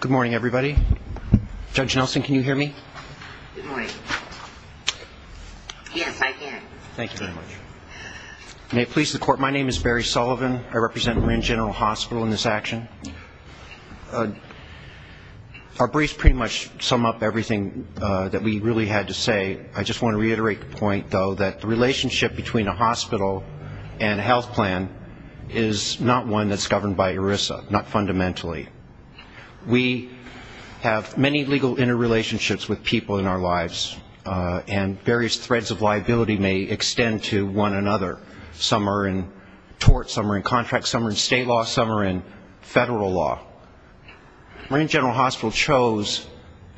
Good morning, everybody. Judge Nelson, can you hear me? Good morning. Yes, I can. Thank you very much. May it please the Court, my name is Barry Sullivan. I represent Marin General Hospital in this action. Our briefs pretty much sum up everything that we really had to say. I just want to reiterate the point, though, that the relationship between a hospital and a health plan is not one that's governed by ERISA, not fundamentally. We have many legal interrelationships with people in our lives, and various threads of liability may extend to one another. Some are in tort, some are in contract, some are in state law, some are in federal law. Marin General Hospital chose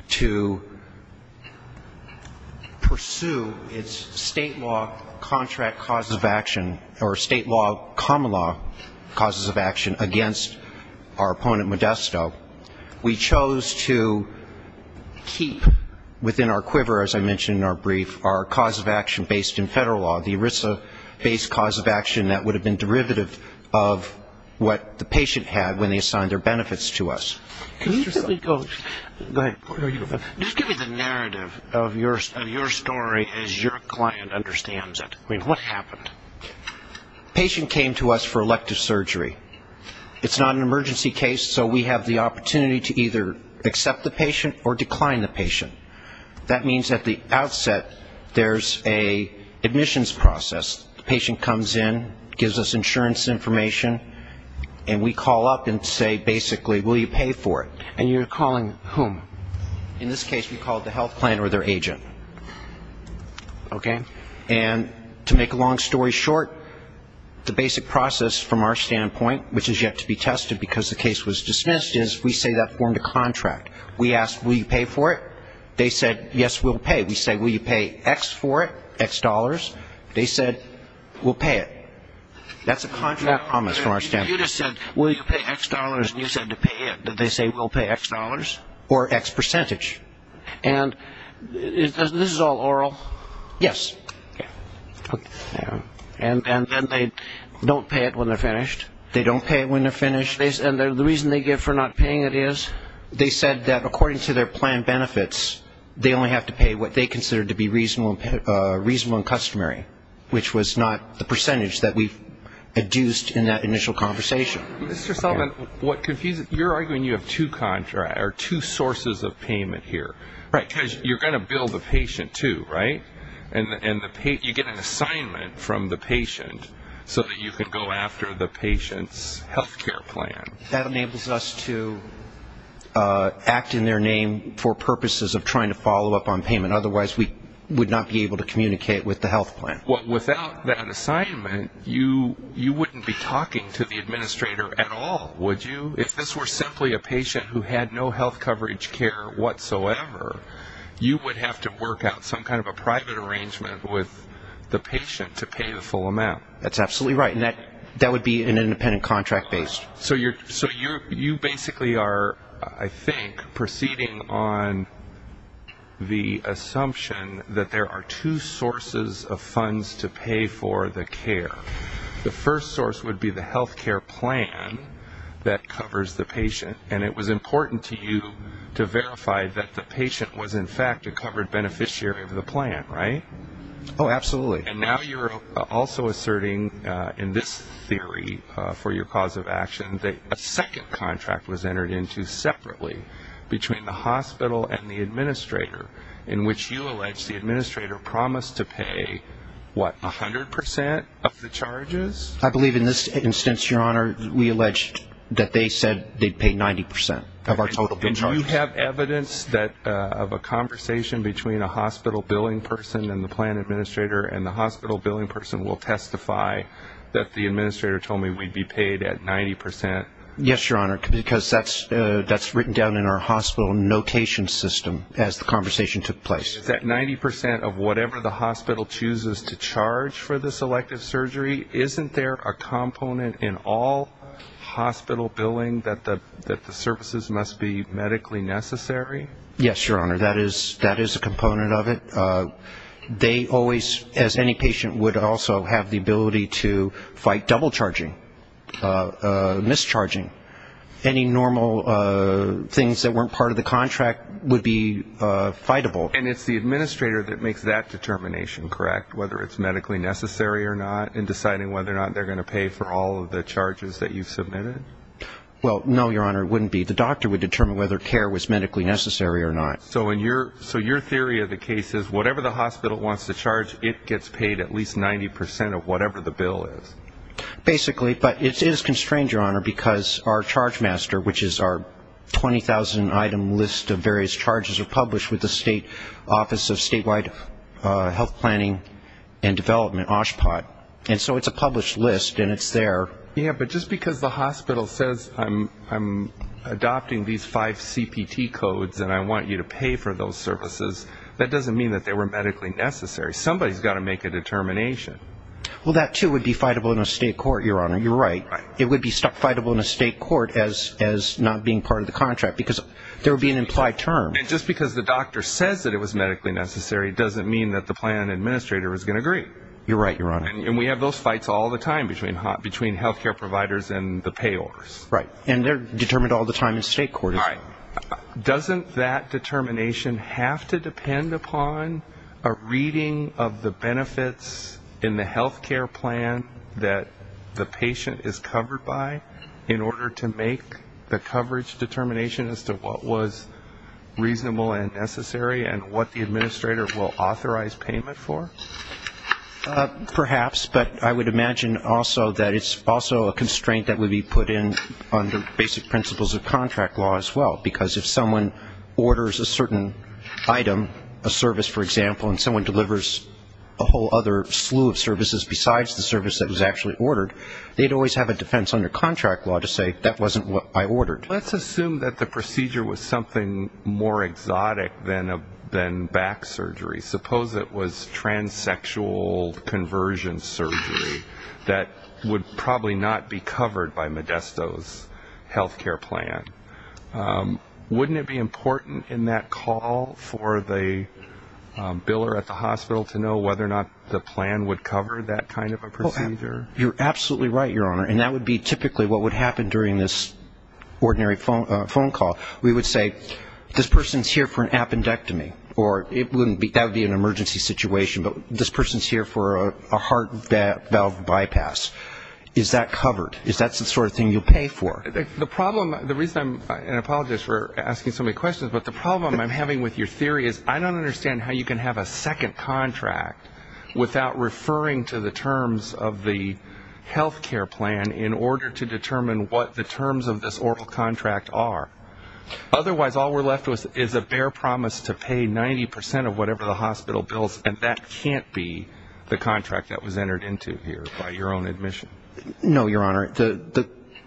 to pursue its state law contract causes of action, or state law common law causes of action against our opponent, Modesto. We chose to keep within our quiver, as I mentioned in our brief, our cause of action based in federal law, the ERISA-based cause of action that would have been derivative of what the patient had when they assigned their benefits to us. Just give me the narrative of your story as your client understands it. I mean, what happened? The patient came to us for elective surgery. It's not an emergency case, so we have the opportunity to either accept the patient or decline the patient. That means at the outset there's an admissions process. The patient comes in, gives us insurance information, and we call up and say basically, will you pay for it? And you're calling whom? In this case we called the health plan or their agent. And to make a long story short, the basic process from our standpoint, which is yet to be tested because the case was dismissed, is we say that form to contract. We ask, will you pay for it? They said, yes, we'll pay. We say, will you pay X for it, X dollars? They said, we'll pay it. That's a contract promise from our standpoint. You just said, will you pay X dollars, and you said to pay it. Did they say, we'll pay X dollars or X percentage? And this is all oral? Yes. And then they don't pay it when they're finished. They don't pay it when they're finished. And the reason they give for not paying it is they said that according to their plan benefits, they only have to pay what they consider to be reasonable and customary, which was not the percentage that we induced in that initial conversation. Mr. Sullivan, you're arguing you have two sources of payment here, because you're going to bill the patient, too, right? And you get an assignment from the patient so that you can go after the patient's health care plan. That enables us to act in their name for purposes of trying to follow up on payment. Otherwise, we would not be able to communicate with the health plan. Well, without that assignment, you wouldn't be talking to the administrator at all, would you? If this were simply a patient who had no health coverage care whatsoever, you would have to work out some kind of a private arrangement with the patient to pay the full amount. That's absolutely right, and that would be an independent contract based. So you basically are, I think, proceeding on the assumption that there are two sources of funds to pay for the care. The first source would be the health care plan that covers the patient, and it was important to you to verify that the patient was in fact a covered beneficiary of the plan, right? Oh, absolutely. And now you're also asserting in this theory for your cause of action that a second contract was entered into separately between the hospital and the administrator, in which you allege the administrator promised to pay, what, 100% of the charges? I believe in this instance, Your Honor, we alleged that they said they'd pay 90% of our total. And you have evidence of a conversation between a hospital billing person and the plan administrator, and the hospital billing person will testify that the administrator told me we'd be paid at 90%? Yes, Your Honor, because that's written down in our hospital notation system as the conversation took place. Is that 90% of whatever the hospital chooses to charge for this elective surgery? Isn't there a component in all hospital billing that the services must be medically necessary? Yes, Your Honor, that is a component of it. They always, as any patient, would also have the ability to fight double charging, mischarging. Any normal things that weren't part of the contract would be fightable. And it's the administrator that makes that determination, correct, whether it's medically necessary or not, in deciding whether or not they're going to pay for all of the charges that you've submitted? Well, no, Your Honor, it wouldn't be. The doctor would determine whether care was medically necessary or not. So your theory of the case is whatever the hospital wants to charge, it gets paid at least 90% of whatever the bill is? Basically, but it is constrained, Your Honor, because our charge master, which is our 20,000-item list of various charges, are published with the State Office of Statewide Health Planning and Development, OSHPD. And so it's a published list, and it's there. Yes, but just because the hospital says, I'm adopting these five CPT codes and I want you to pay for those services, that doesn't mean that they were medically necessary. Somebody's got to make a determination. Well, that, too, would be fightable in a state court, Your Honor, you're right. It would be fightable in a state court as not being part of the contract because there would be an implied term. And just because the doctor says that it was medically necessary doesn't mean that the plan administrator is going to agree. You're right, Your Honor. And we have those fights all the time between health care providers and the payors. Right, and they're determined all the time in state court. Doesn't that determination have to depend upon a reading of the benefits in the health care plan that the patient is covered by in order to make the coverage determination as to what was reasonable and necessary and what the administrator will authorize payment for? Perhaps, but I would imagine also that it's also a constraint that would be put in under basic principles of contract law as well. Because if someone orders a certain item, a service, for example, and someone delivers a whole other slew of services besides the service that was actually ordered, they'd always have a defense under contract law to say that wasn't what I ordered. Let's assume that the procedure was something more exotic than back surgery. Suppose it was transsexual conversion surgery that would probably not be covered by Modesto's health care plan. Wouldn't it be important in that call for the biller at the hospital to know whether or not the plan would cover that kind of a procedure? You're absolutely right, Your Honor. And that would be typically what would happen during this ordinary phone call. We would say, this person's here for an appendectomy. That would be an emergency situation, but this person's here for a heart valve bypass. Is that covered? Is that the sort of thing you'll pay for? The problem, and I apologize for asking so many questions, but the problem I'm having with your theory is I don't understand how you can have a second contract without referring to the terms of the health care plan in order to determine what the terms of this oral contract are. Otherwise, all we're left with is a bare promise to pay 90 percent of whatever the hospital bills, and that can't be the contract that was entered into here by your own admission. No, Your Honor.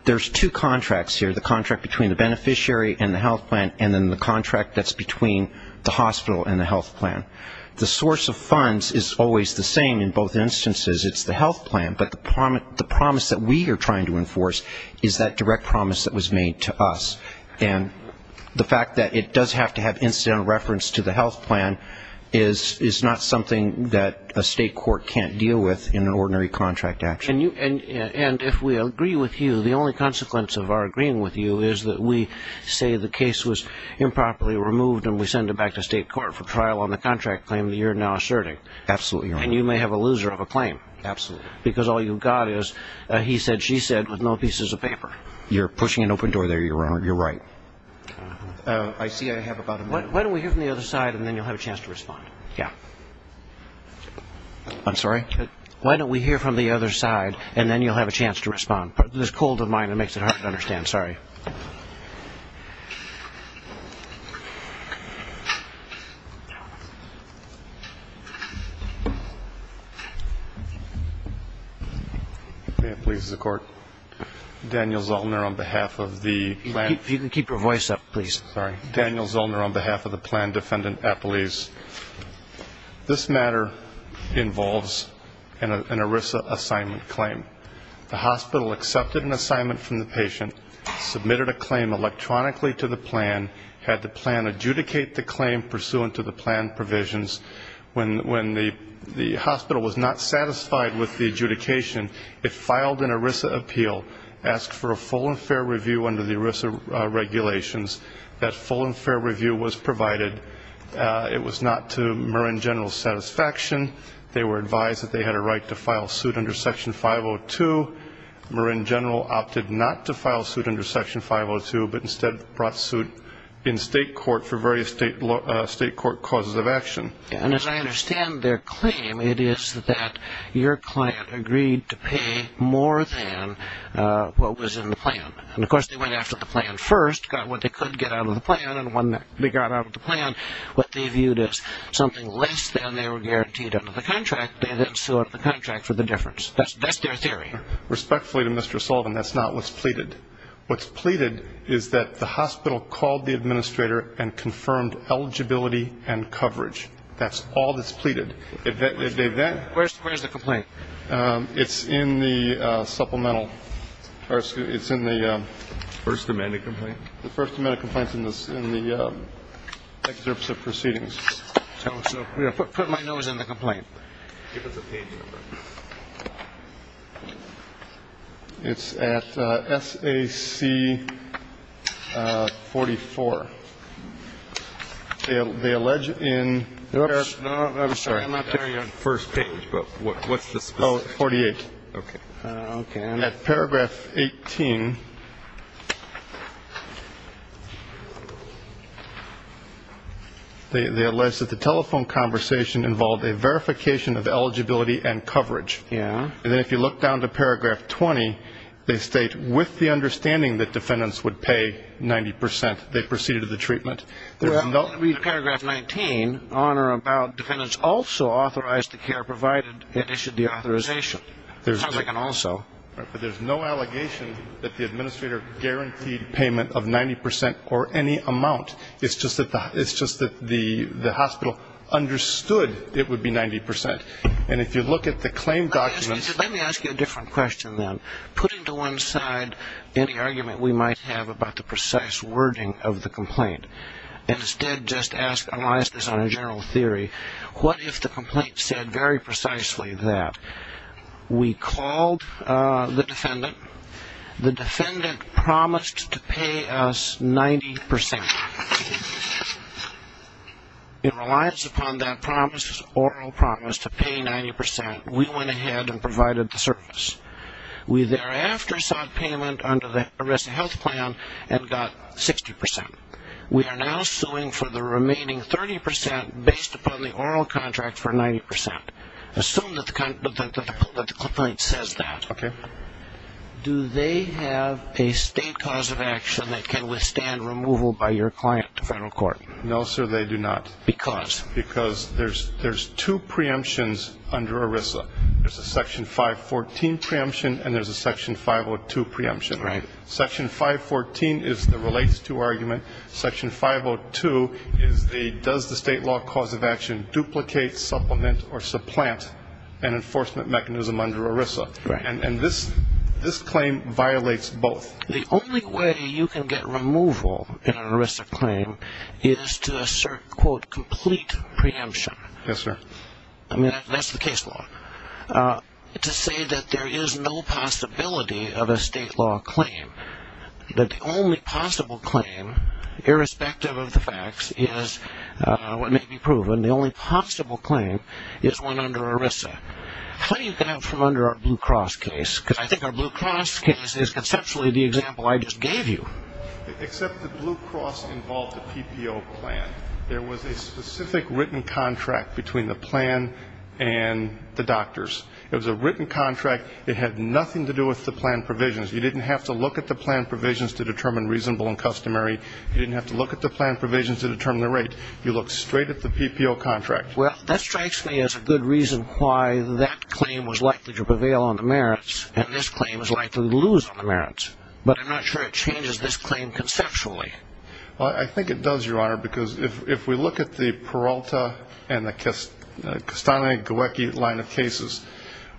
There's two contracts here, the contract between the beneficiary and the health plan, and then the contract that's between the hospital and the health plan. The source of funds is always the same in both instances. It's the health plan, but the promise that we are trying to enforce is that direct promise that was made to us. And the fact that it does have to have incidental reference to the health plan is not something that a state court can't deal with in an ordinary contract action. And if we agree with you, the only consequence of our agreeing with you is that we say the case was improperly removed and we send it back to state court for trial on the contract claim that you're now asserting. Absolutely, Your Honor. And you may have a loser of a claim. Absolutely. Because all you've got is a he said, she said with no pieces of paper. You're pushing an open door there, Your Honor. You're right. I see I have about a minute. Why don't we hear from the other side, and then you'll have a chance to respond. Yeah. I'm sorry? Why don't we hear from the other side, and then you'll have a chance to respond. This is cold of mine. It makes it hard to understand. Sorry. Please, the court. Daniel Zolner on behalf of the plan. If you can keep your voice up, please. Sorry. Daniel Zolner on behalf of the plan defendant at police. This matter involves an ERISA assignment claim. The hospital accepted an assignment from the patient, submitted a claim electronically to the plan, had the plan adjudicate the claim pursuant to the plan provisions. When the hospital was not satisfied with the adjudication, it filed an ERISA appeal, asked for a full and fair review under the ERISA regulations. That full and fair review was provided. It was not to Marin General's satisfaction. They were advised that they had a right to file suit under Section 502. Marin General opted not to file suit under Section 502, but instead brought suit in state court for various state court causes of action. And as I understand their claim, it is that your client agreed to pay more than what was in the plan. And, of course, they went after the plan first, got what they could get out of the plan, and when they got out of the plan, what they viewed as something less than they were guaranteed under the contract, they then sued under the contract for the difference. That's their theory. Respectfully to Mr. Sullivan, that's not what's pleaded. What's pleaded is that the hospital called the administrator and confirmed eligibility and coverage. That's all that's pleaded. Where's the complaint? It's in the supplemental. It's in the first amendment complaint. And it's in the excerpts of proceedings. So put my nose in the complaint. Give us a page. It's at S.A.C. 44. They allege in there. No, I'm sorry. I'm not carrying on first page. What's this? Forty eight. At paragraph 18, they allege that the telephone conversation involved a verification of eligibility and coverage. And then if you look down to paragraph 20, they state, with the understanding that defendants would pay 90%, they proceeded to the treatment. Paragraph 19, on or about defendants also authorized the care provided, it issued the authorization. It sounds like an also. But there's no allegation that the administrator guaranteed payment of 90% or any amount. It's just that the hospital understood it would be 90%. And if you look at the claim documents. Let me ask you a different question then. Putting to one side any argument we might have about the precise wording of the complaint. Instead, just analyze this on a general theory. What if the complaint said very precisely that we called the defendant. The defendant promised to pay us 90%. In reliance upon that promise, oral promise, to pay 90%, we went ahead and provided the service. We thereafter sought payment under the ERISA health plan and got 60%. We are now suing for the remaining 30% based upon the oral contract for 90%. Assume that the complaint says that. Okay. Do they have a state cause of action that can withstand removal by your client to federal court? No, sir, they do not. Because? Because there's two preemptions under ERISA. There's a section 514 preemption and there's a section 502 preemption. Right. Section 514 is the relates to argument. Section 502 is the does the state law cause of action duplicate, supplement, or supplant an enforcement mechanism under ERISA. Right. And this claim violates both. The only way you can get removal in an ERISA claim is to assert, quote, complete preemption. Yes, sir. I mean, that's the case law. To say that there is no possibility of a state law claim, that the only possible claim irrespective of the facts is what may be proven, the only possible claim is one under ERISA. How do you get out from under our Blue Cross case? Because I think our Blue Cross case is conceptually the example I just gave you. Except the Blue Cross involved a PPO plan. There was a specific written contract between the plan and the doctors. It was a written contract. It had nothing to do with the plan provisions. You didn't have to look at the plan provisions to determine reasonable and customary. You didn't have to look at the plan provisions to determine the rate. You looked straight at the PPO contract. Well, that strikes me as a good reason why that claim was likely to prevail on the merits and this claim was likely to lose on the merits. But I'm not sure it changes this claim conceptually. I think it does, Your Honor, because if we look at the Peralta and the Castaneda-Guecki line of cases,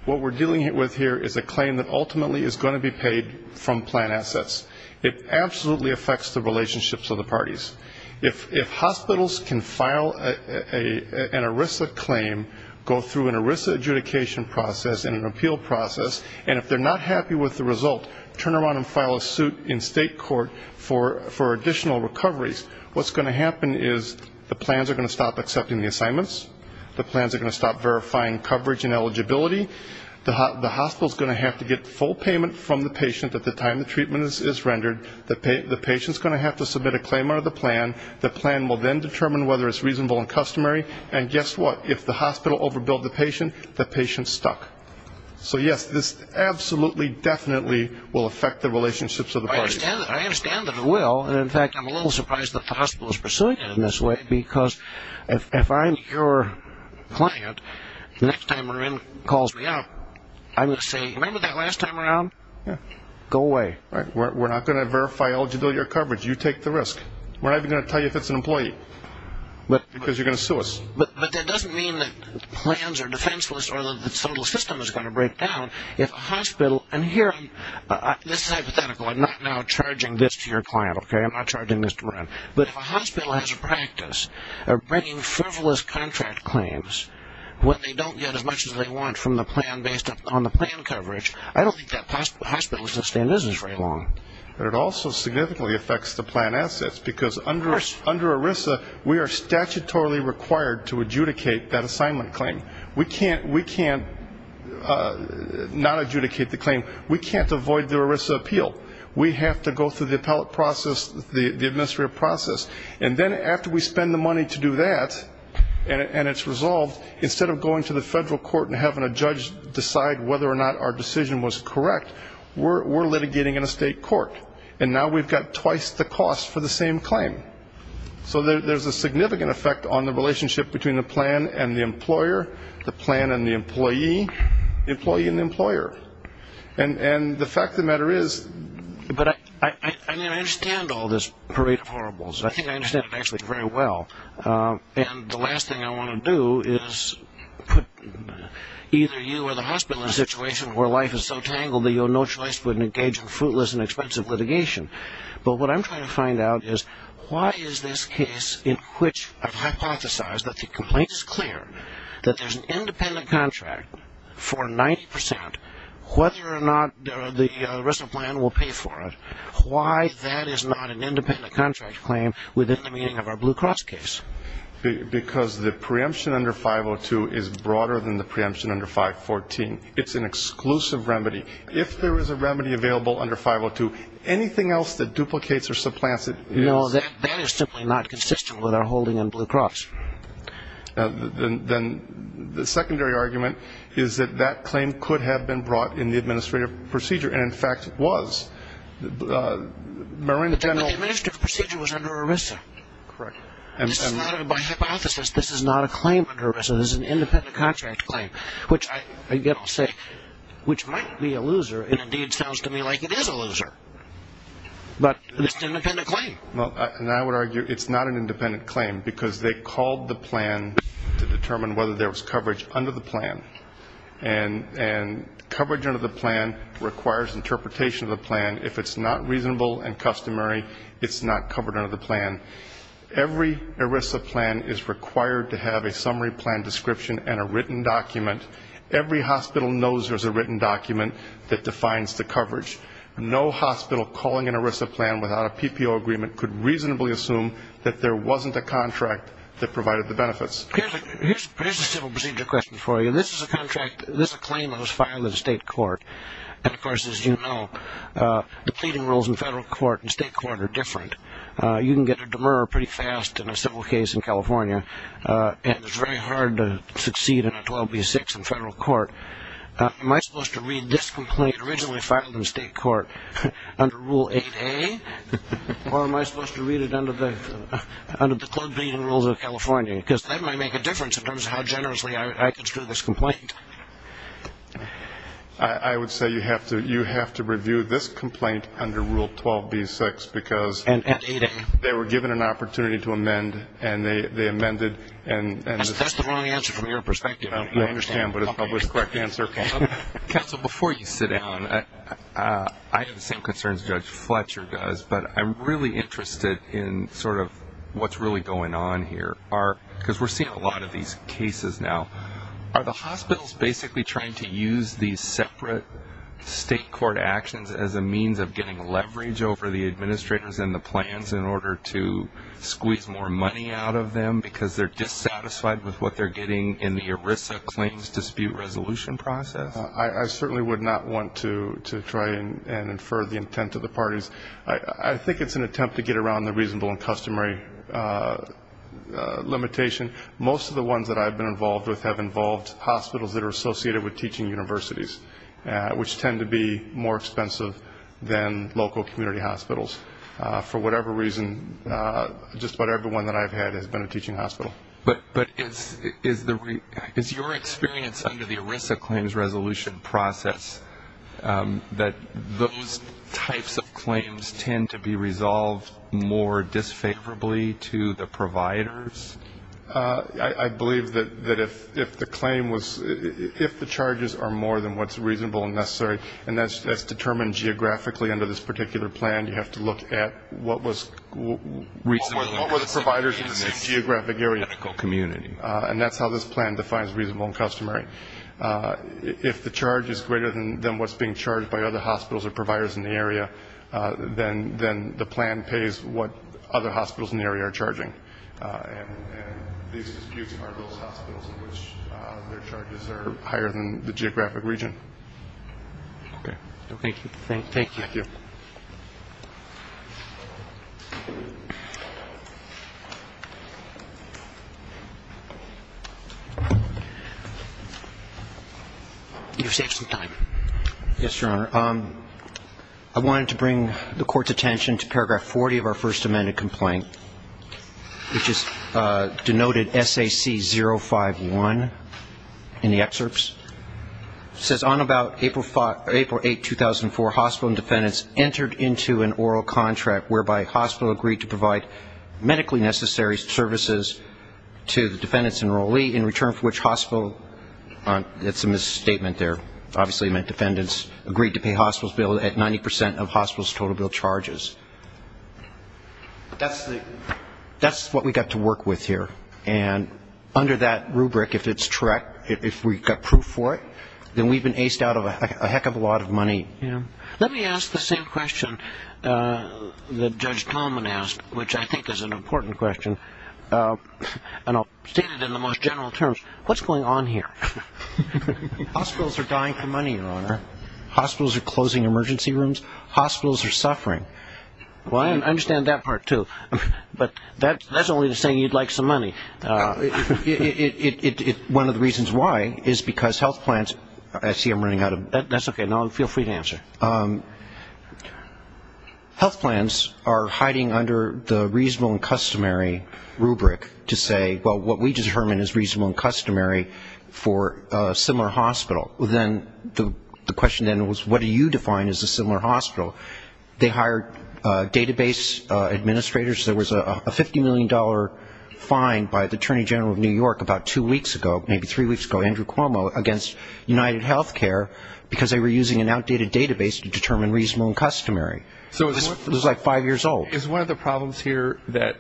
what we're dealing with here is a claim that ultimately is going to be paid from plan assets. It absolutely affects the relationships of the parties. If hospitals can file an ERISA claim, go through an ERISA adjudication process and an appeal process, and if they're not happy with the result, turn around and file a suit in state court for additional recoveries. What's going to happen is the plans are going to stop accepting the assignments. The plans are going to stop verifying coverage and eligibility. The hospital's going to have to get full payment from the patient at the time the treatment is rendered. The patient's going to have to submit a claim under the plan. The plan will then determine whether it's reasonable and customary. And guess what? If the hospital overbilled the patient, the patient's stuck. So, yes, this absolutely, definitely will affect the relationships of the parties. I understand that it will, and, in fact, I'm a little surprised that the hospital is pursuing it in this way, because if I'm your client, the next time Marin calls me up, I'm going to say, remember that last time around? Go away. We're not going to verify eligibility or coverage. You take the risk. We're not even going to tell you if it's an employee, because you're going to sue us. But that doesn't mean that plans are defenseless or that the total system is going to break down. If a hospital, and here, this is hypothetical. I'm not now charging this to your client. I'm not charging this to Marin. But if a hospital has a practice of bringing frivolous contract claims when they don't get as much as they want from the plan based on the plan coverage, I don't think that hospital is going to stay in business very long. But it also significantly affects the plan assets, because under ERISA we are statutorily required to adjudicate that assignment claim. We can't not adjudicate the claim. We can't avoid the ERISA appeal. We have to go through the appellate process, the administrative process. And then after we spend the money to do that and it's resolved, instead of going to the federal court and having a judge decide whether or not our decision was correct, we're litigating in a state court. And now we've got twice the cost for the same claim. So there's a significant effect on the relationship between the plan and the employer, the plan and the employee, the employee and the employer. And the fact of the matter is. But I understand all this parade of horribles. I think I understand it actually very well. And the last thing I want to do is put either you or the hospital in a situation where life is so tangled that you have no choice but to engage in fruitless and expensive litigation. But what I'm trying to find out is why is this case in which I've hypothesized that the complaint is clear, that there's an independent contract for 90 percent, whether or not the ERISA plan will pay for it, why that is not an independent contract claim within the meaning of our Blue Cross case? Because the preemption under 502 is broader than the preemption under 514. It's an exclusive remedy. If there is a remedy available under 502, anything else that duplicates or supplants it is. No, that is simply not consistent with our holding in Blue Cross. Then the secondary argument is that that claim could have been brought in the administrative procedure, and, in fact, was. But the administrative procedure was under ERISA. Correct. This is not, by hypothesis, this is not a claim under ERISA. This is an independent contract claim, which I get all sick, which might be a loser. It indeed sounds to me like it is a loser. But it's an independent claim. And I would argue it's not an independent claim, because they called the plan to determine whether there was coverage under the plan. And coverage under the plan requires interpretation of the plan. If it's not reasonable and customary, it's not covered under the plan. Every ERISA plan is required to have a summary plan description and a written document. Every hospital knows there's a written document that defines the coverage. No hospital calling an ERISA plan without a PPO agreement could reasonably assume that there wasn't a contract that provided the benefits. Here's a civil procedure question for you. This is a contract, this is a claim that was filed in state court. And, of course, as you know, the pleading rules in federal court and state court are different. You can get a demurrer pretty fast in a civil case in California. And it's very hard to succeed in a 12B6 in federal court. Am I supposed to read this complaint originally filed in state court under Rule 8A, or am I supposed to read it under the club pleading rules of California? Because that might make a difference in terms of how generously I can screw this complaint. I would say you have to review this complaint under Rule 12B6, because they were given an opportunity to amend, and they amended. That's the wrong answer from your perspective. I understand, but it's probably the correct answer. Counsel, before you sit down, I have the same concerns Judge Fletcher does, but I'm really interested in sort of what's really going on here, because we're seeing a lot of these cases now. Are the hospitals basically trying to use these separate state court actions as a means of getting leverage over the administrators and the plans in order to squeeze more money out of them because they're dissatisfied with what they're getting in the ERISA claims dispute resolution process? I certainly would not want to try and infer the intent of the parties. I think it's an attempt to get around the reasonable and customary limitation. Most of the ones that I've been involved with have involved hospitals that are associated with teaching universities, which tend to be more expensive than local community hospitals. For whatever reason, just about every one that I've had has been a teaching hospital. But is your experience under the ERISA claims resolution process that those types of claims tend to be resolved more disfavorably to the providers? I believe that if the claim was, if the charges are more than what's reasonable and necessary, and that's determined geographically under this particular plan, you have to look at what were the providers in the same geographic area. And that's how this plan defines reasonable and customary. If the charge is greater than what's being charged by other hospitals or providers in the area, then the plan pays what other hospitals in the area are charging. And these disputes are those hospitals in which their charges are higher than the geographic region. Okay. Thank you. Thank you. Thank you. You've saved some time. Yes, Your Honor. I wanted to bring the Court's attention to paragraph 40 of our first amended complaint, which is denoted SAC051 in the excerpts. It says, On about April 8, 2004, hospital and defendants entered into an oral contract whereby hospital agreed to provide medically necessary services to the defendant's enrollee, in return for which hospital, it's a misstatement there, obviously meant defendants agreed to pay hospital's bill at 90 percent of hospital's total bill charges. That's what we got to work with here. And under that rubric, if it's correct, if we've got proof for it, then we've been aced out of a heck of a lot of money. Let me ask the same question that Judge Tolman asked, which I think is an important question. And I'll state it in the most general terms. What's going on here? Hospitals are dying for money, Your Honor. Hospitals are closing emergency rooms. Hospitals are suffering. Well, I understand that part, too. But that's only to say you'd like some money. One of the reasons why is because health plans – I see I'm running out of – That's okay. Feel free to answer. Health plans are hiding under the reasonable and customary rubric to say, well, what we determine is reasonable and customary for a similar hospital. Then the question then was, what do you define as a similar hospital? They hired database administrators. There was a $50 million fine by the Attorney General of New York about two weeks ago, maybe three weeks ago, Andrew Cuomo, against UnitedHealthcare, because they were using an outdated database to determine reasonable and customary. It was like five years old. Is one of the problems here that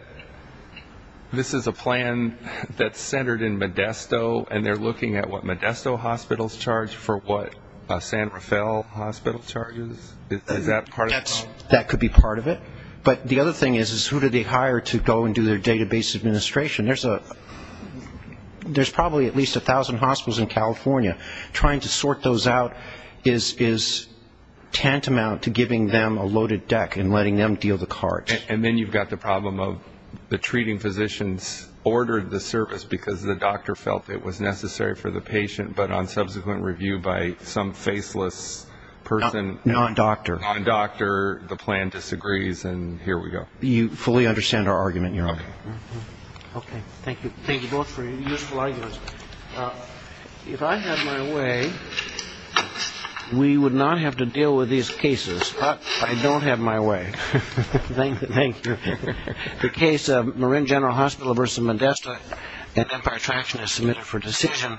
this is a plan that's centered in Modesto, and they're looking at what Modesto hospitals charge for what a San Rafael hospital charges? Is that part of the problem? That could be part of it. But the other thing is, is who do they hire to go and do their database administration? There's probably at least 1,000 hospitals in California. Trying to sort those out is tantamount to giving them a loaded deck and letting them deal the cards. And then you've got the problem of the treating physicians ordered the service because the doctor felt it was necessary for the patient, but on subsequent review by some faceless person. Non-doctor. Non-doctor. The plan disagrees, and here we go. You fully understand our argument, Your Honor. Okay. Okay, thank you. Thank you both for your useful arguments. If I had my way, we would not have to deal with these cases. But I don't have my way. Thank you. The case of Marin General Hospital v. Modesto at Empire Attraction is submitted for decision.